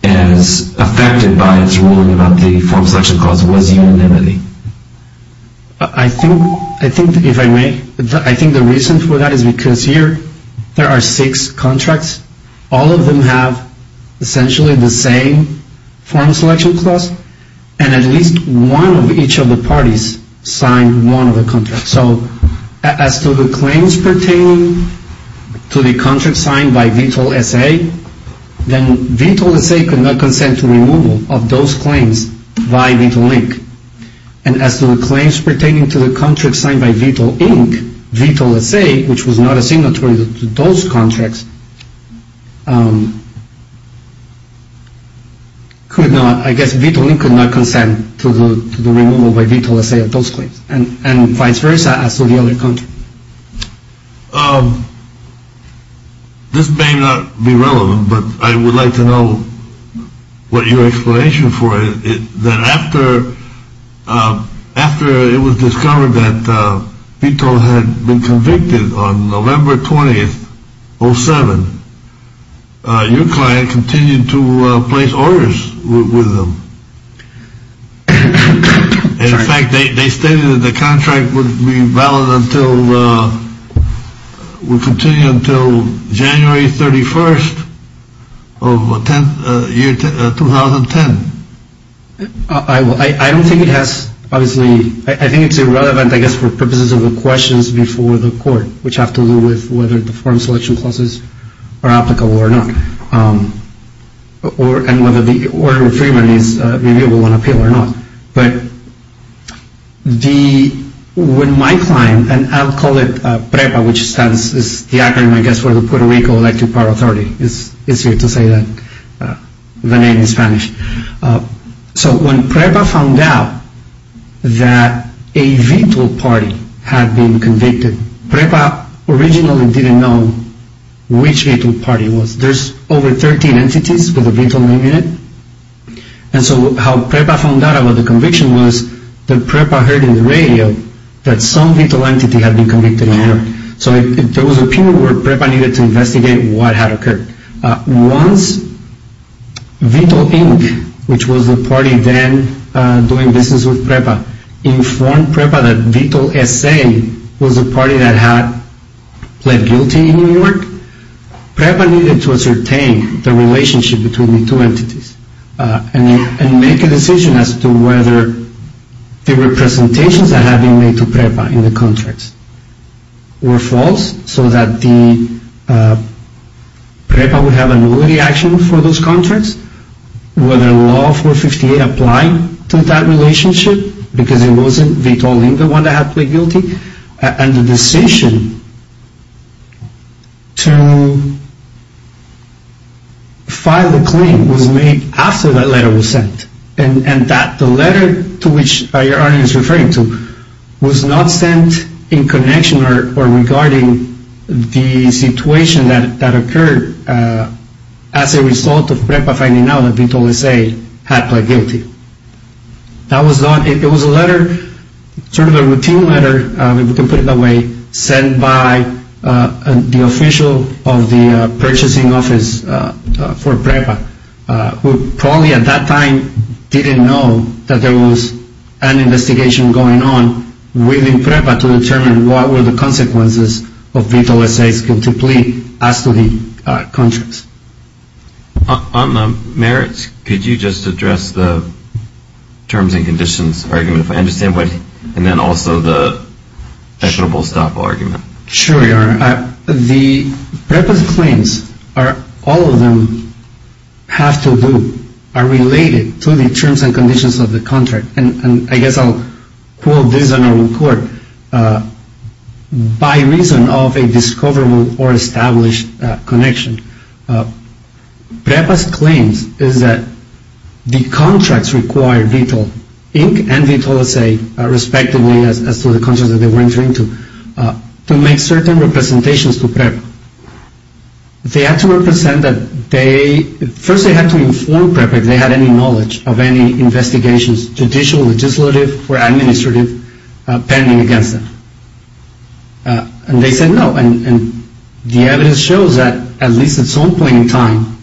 as affected by its ruling about the form of selection clause was unanimity. I think if I may, I think the reason for that is because here there are six contracts. All of them have essentially the same form of selection clause and at least one of each of the parties signed one of the contracts. So as to the claims pertaining to the contract signed by VTOL-SA, then VTOL-SA could not consent to removal of those claims by VTOL-INC. And as to the claims pertaining to the contract signed by VTOL-INC, VTOL-SA, which was not a signatory to those contracts, could not, I guess VTOL-INC could not consent to the removal by VTOL-SA of those claims. And vice versa as to the other contract. This may not be relevant, but I would like to know what your explanation for it is. That after it was discovered that VTOL had been convicted on November 20th, 07, your client continued to place orders with them. In fact, they stated that the contract would be valid until, would continue until January 31st of 2010. I don't think it has, obviously, I think it's irrelevant, I guess, for purposes of the questions before the court, which have to do with whether the form selection clauses are applicable or not. And whether the order of remand is reviewable on appeal or not. But the, when my client, and I'll call it PREPA, which stands, is the acronym, I guess, for the Puerto Rico Electric Power Authority. It's easier to say that, the name in Spanish. So when PREPA found out that a VTOL party had been convicted, PREPA originally didn't know which VTOL party it was. There's over 13 entities with a VTOL name in it. And so how PREPA found out about the conviction was that PREPA heard in the radio that some VTOL entity had been convicted in New York. So there was a period where PREPA needed to investigate what had occurred. Once VTOL Inc., which was the party then doing business with PREPA, informed PREPA that VTOL SA was the party that had pled guilty in New York, PREPA needed to ascertain the relationship between the two entities and make a decision as to whether the representations that had been made to PREPA in the contracts were false so that PREPA would have a nullity action for those contracts, whether Law 458 applied to that relationship because it wasn't VTOL Inc. the one that had pled guilty, and the decision to file the claim was made after that letter was sent and that the letter to which your audience is referring to was not sent in connection or regarding the situation that occurred as a result of PREPA finding out that VTOL SA had pled guilty. It was a letter, sort of a routine letter, if you can put it that way, sent by the official of the purchasing office for PREPA, who probably at that time didn't know that there was an investigation going on within PREPA to determine what were the consequences of VTOL SA's guilty plea as to the contracts. On the merits, could you just address the terms and conditions argument, if I understand right, and then also the equitable stop argument? Sure, Your Honor. The PREPA's claims, all of them have to do, are related to the terms and conditions of the contract, and I guess I'll quote this on record, by reason of a discoverable or established connection. PREPA's claims is that the contracts required VTOL Inc. and VTOL SA, respectively, as to the contracts that they were entering into, to make certain representations to PREPA. They had to represent that they, first they had to inform PREPA if they had any knowledge of any investigations, judicial, legislative, or administrative, pending against them. And they said no. And the evidence shows that, at least at some point in time,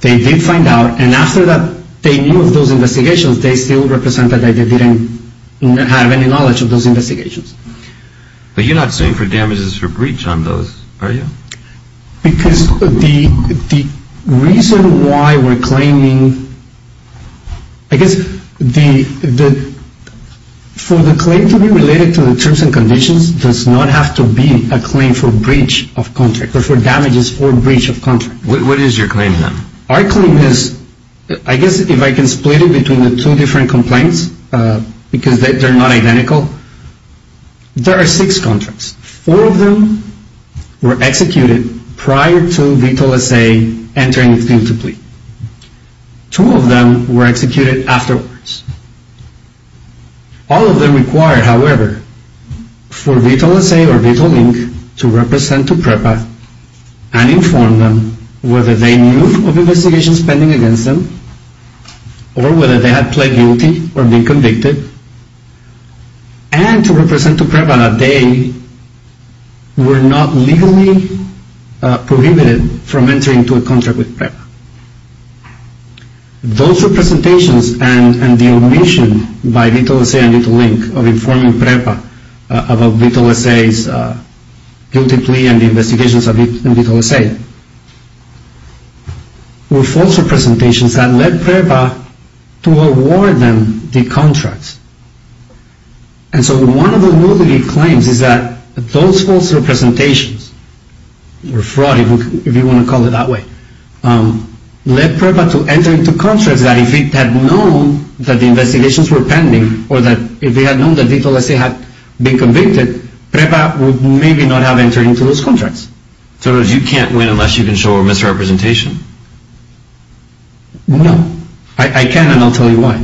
they did find out, and after that they knew of those investigations, they still represented that they didn't have any knowledge of those investigations. But you're not suing for damages for breach on those, are you? Because the reason why we're claiming, I guess the, for the claim to be related to the terms and conditions does not have to be a claim for breach of contract, but for damages or breach of contract. What is your claim then? Our claim is, I guess if I can split it between the two different complaints, because they're not identical, there are six contracts. Four of them were executed prior to VTOL-SA entering into plea. Two of them were executed afterwards. All of them required, however, for VTOL-SA or VTOL-INC to represent to PREPA and inform them whether they knew of investigations pending against them, or whether they had pled guilty or been convicted, and to represent to PREPA that they were not legally prohibited from entering into a contract with PREPA. Those representations and the omission by VTOL-SA and VTOL-INC of informing PREPA about VTOL-SA's guilty plea and the investigations in VTOL-SA were false representations that led PREPA to award them the contracts. And so one of the rules that he claims is that those false representations, or fraud if you want to call it that way, led PREPA to enter into contracts that if it had known that the investigations were pending, or that if it had known that VTOL-SA had been convicted, PREPA would maybe not have entered into those contracts. So you can't win unless you can show a misrepresentation? No. I can and I'll tell you why.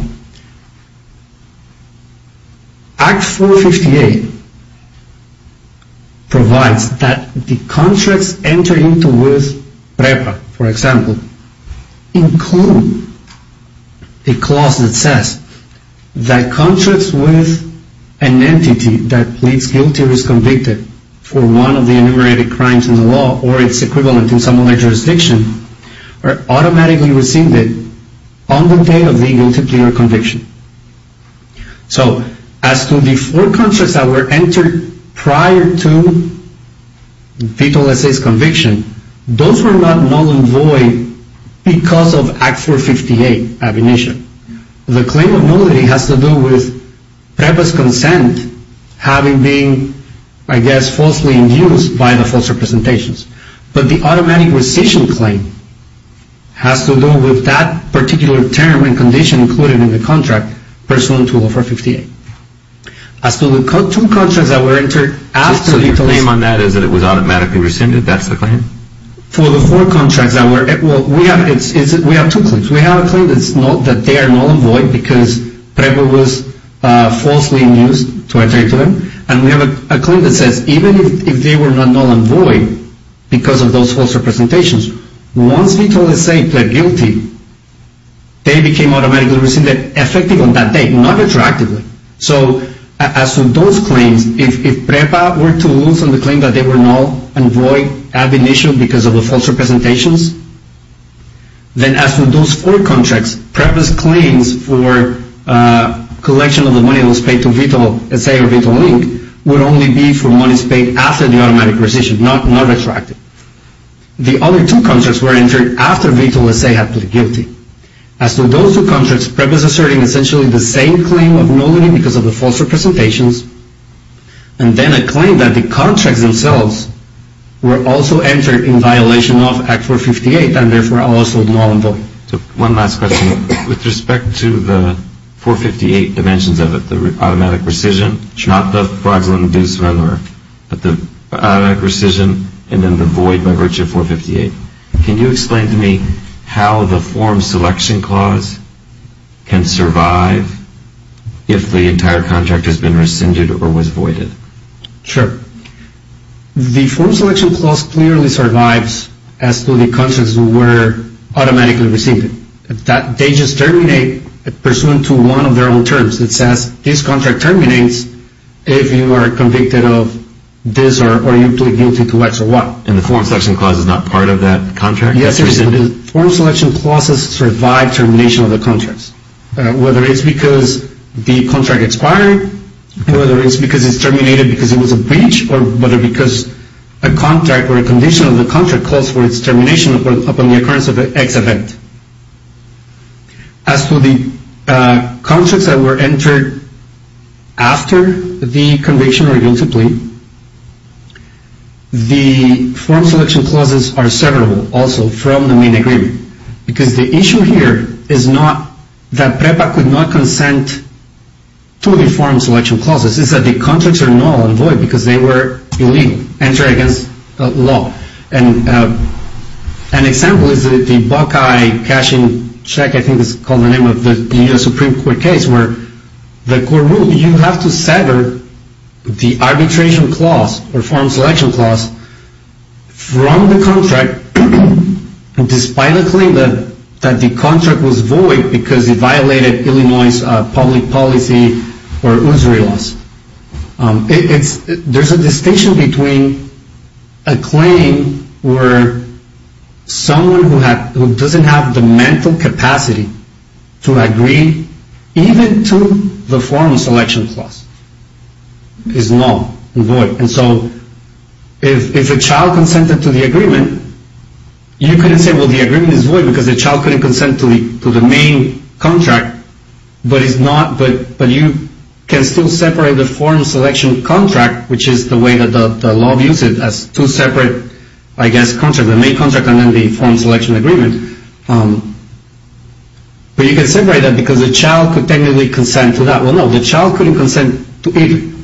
Act 458 provides that the contracts entered into with PREPA, for example, include a clause that says that contracts with an entity that pleads guilty or is convicted for one of the enumerated crimes in the law or its equivalent in some other jurisdiction are automatically rescinded on the day of the guilty plea or conviction. So as to the four contracts that were entered prior to VTOL-SA's conviction, those were not null and void because of Act 458 ab initio. The claim of nullity has to do with PREPA's consent having been, I guess, falsely induced by the false representations. But the automatic rescission claim has to do with that particular term and condition included in the contract pursuant to Act 458. As to the two contracts that were entered after VTOL-SA... So your claim on that is that it was automatically rescinded? That's the claim? For the four contracts that were... Well, we have two claims. We have a claim that they are null and void because PREPA was falsely induced to enter into them. And we have a claim that says even if they were not null and void because of those false representations, once VTOL-SA pled guilty, they became automatically rescinded effective on that day, not retroactively. So as to those claims, if PREPA were to lose on the claim that they were null and void ab initio because of the false representations, then as to those four contracts, PREPA's claims for collection of the money that was paid to VTOL-SA or VTOL-LINK would only be for monies paid after the automatic rescission, not retroactively. The other two contracts were entered after VTOL-SA had pled guilty. As to those two contracts, PREPA is asserting essentially the same claim of nullity because of the false representations. And then a claim that the contracts themselves were also entered in violation of Act 458 and therefore also null and void. One last question. With respect to the 458 dimensions of it, the automatic rescission, not the fraudulent induced runner, but the automatic rescission and then the void by virtue of 458, can you explain to me how the Form Selection Clause can survive if the entire contract has been rescinded or was voided? Sure. The Form Selection Clause clearly survives as to the contracts that were automatically rescinded. They just terminate pursuant to one of their own terms. It says this contract terminates if you are convicted of this or you plead guilty to X or Y. And the Form Selection Clause is not part of that contract? Yes, it is. The Form Selection Clause has survived termination of the contracts, whether it's because the contract expired, whether it's because it's terminated because it was a breach, or whether because a contract or a condition of the contract calls for its termination upon the occurrence of an X event. As to the contracts that were entered after the conviction or guilty plea, the Form Selection Clauses are severable also from the main agreement. Because the issue here is not that PREPA could not consent to the Form Selection Clauses, it's that the contracts are null and void because they were illegal, entered against law. And an example is the Buckeye cashing check, I think it's called the name of the U.S. Supreme Court case, where the court ruled you have to sever the Arbitration Clause or Form Selection Clause from the contract despite the claim that the contract was void because it violated Illinois' public policy or usury laws. There's a distinction between a claim where someone who doesn't have the mental capacity to agree even to the Form Selection Clause is null and void. And so if a child consented to the agreement, you couldn't say, well, the agreement is void because the child couldn't consent to the main contract, but you can still separate the Form Selection Contract, which is the way that the law views it as two separate, I guess, contracts, the main contract and then the Form Selection Agreement. But you can separate that because the child could technically consent to that. Well, no, the child couldn't consent to either.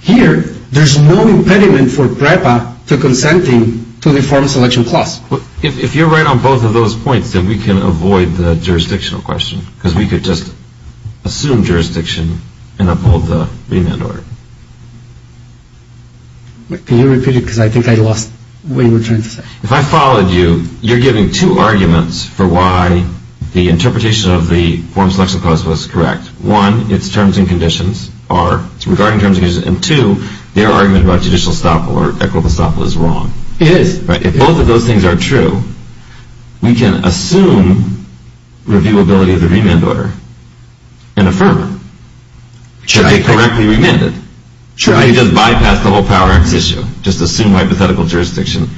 Here, there's no impediment for PREPA to consenting to the Form Selection Clause. If you're right on both of those points, then we can avoid the jurisdictional question because we could just assume jurisdiction and uphold the remand order. Can you repeat it because I think I lost what you were trying to say. If I followed you, you're giving two arguments for why the interpretation of the Form Selection Clause was correct. One, it's terms and conditions, or it's regarding terms and conditions. And two, their argument about judicial estoppel or equitable estoppel is wrong. It is. If both of those things are true, we can assume reviewability of the remand order and affirm it. Should they correctly remand it? Should they just bypass the whole Power Act issue, just assume hypothetical jurisdiction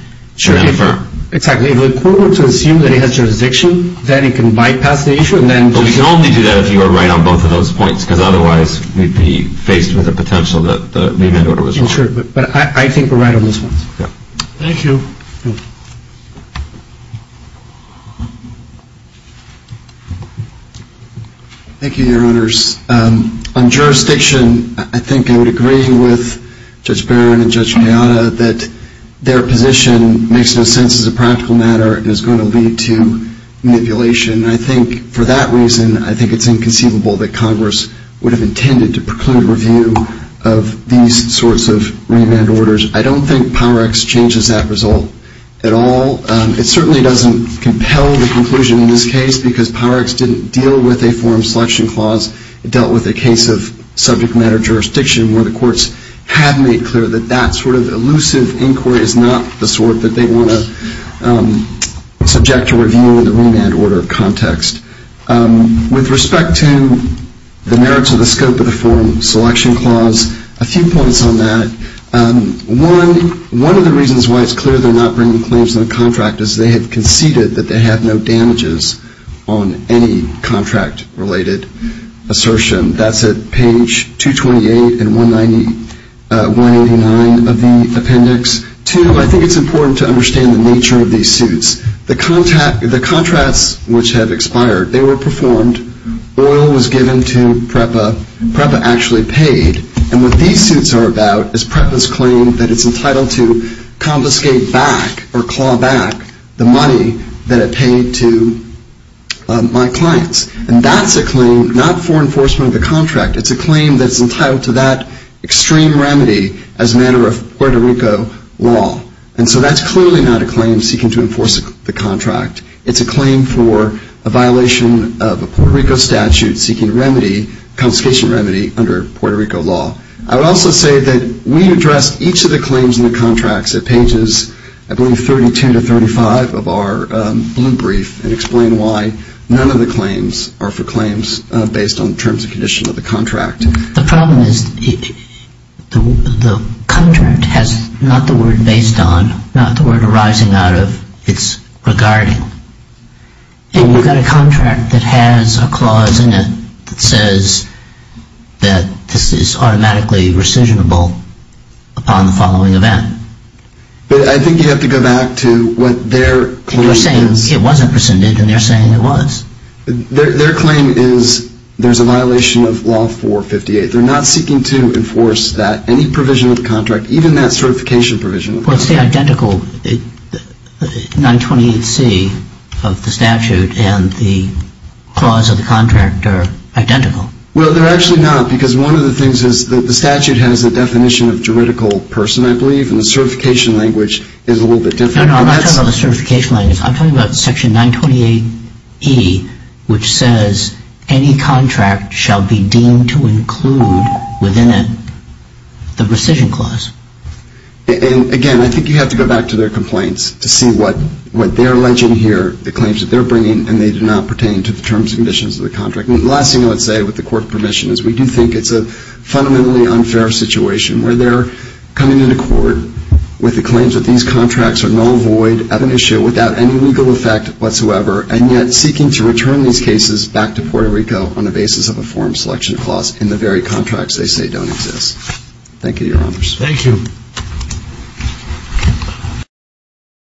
and affirm? Exactly. If the court were to assume that it has jurisdiction, then it can bypass the issue and then do it. But we can only do that if you are right on both of those points because otherwise we'd be faced with the potential that the remand order was wrong. Sure, but I think we're right on those points. Thank you. Thank you, Your Honors. On jurisdiction, I think I would agree with Judge Barron and Judge Galliano that their position makes no sense as a practical matter and is going to lead to manipulation. I think for that reason, I think it's inconceivable that Congress would have intended to preclude review of these sorts of remand orders. I don't think Power Acts changes that result at all. It certainly doesn't compel the conclusion in this case because Power Acts didn't deal with a forum selection clause. It dealt with a case of subject matter jurisdiction where the courts have made clear that that sort of elusive inquiry is not the sort that they want to subject to review in the remand order context. With respect to the merits of the scope of the forum selection clause, a few points on that. One, one of the reasons why it's clear they're not bringing claims to the contract is they have conceded that they have no damages on any contract-related assertion. That's at page 228 and 189 of the appendix. Two, I think it's important to understand the nature of these suits. The contracts which have expired, they were performed. Oil was given to PREPA. PREPA actually paid. And what these suits are about is PREPA's claim that it's entitled to confiscate back or claw back the money that it paid to my clients. And that's a claim not for enforcement of the contract. It's a claim that's entitled to that extreme remedy as a matter of Puerto Rico law. And so that's clearly not a claim seeking to enforce the contract. It's a claim for a violation of a Puerto Rico statute seeking remedy, a confiscation remedy under Puerto Rico law. I would also say that we addressed each of the claims in the contracts at pages, I believe, 32 to 35 of our blue brief and explain why none of the claims are for claims based on terms and conditions of the contract. The problem is the contract has not the word based on, not the word arising out of, it's regarding. And you've got a contract that has a clause in it that says that this is automatically rescissionable upon the following event. But I think you have to go back to what their claim is. They're saying it wasn't rescinded and they're saying it was. Their claim is there's a violation of law 458. They're not seeking to enforce that, any provision of the contract, even that certification provision. Well, it's the identical 928C of the statute and the clause of the contract are identical. Well, they're actually not because one of the things is that the statute has a definition of juridical person, I believe, and the certification language is a little bit different. No, no, I'm not talking about the certification language. I'm talking about Section 928E, which says any contract shall be deemed to include within it the rescission clause. And, again, I think you have to go back to their complaints to see what they're alleging here, the claims that they're bringing, and they do not pertain to the terms and conditions of the contract. And the last thing I would say, with the Court's permission, is we do think it's a fundamentally unfair situation where they're coming into court with the claims that these contracts are null void of an issue without any legal effect whatsoever, and yet seeking to return these cases back to Puerto Rico on the basis of a form selection clause in the very contracts they say don't exist. Thank you, Your Honors. Thank you.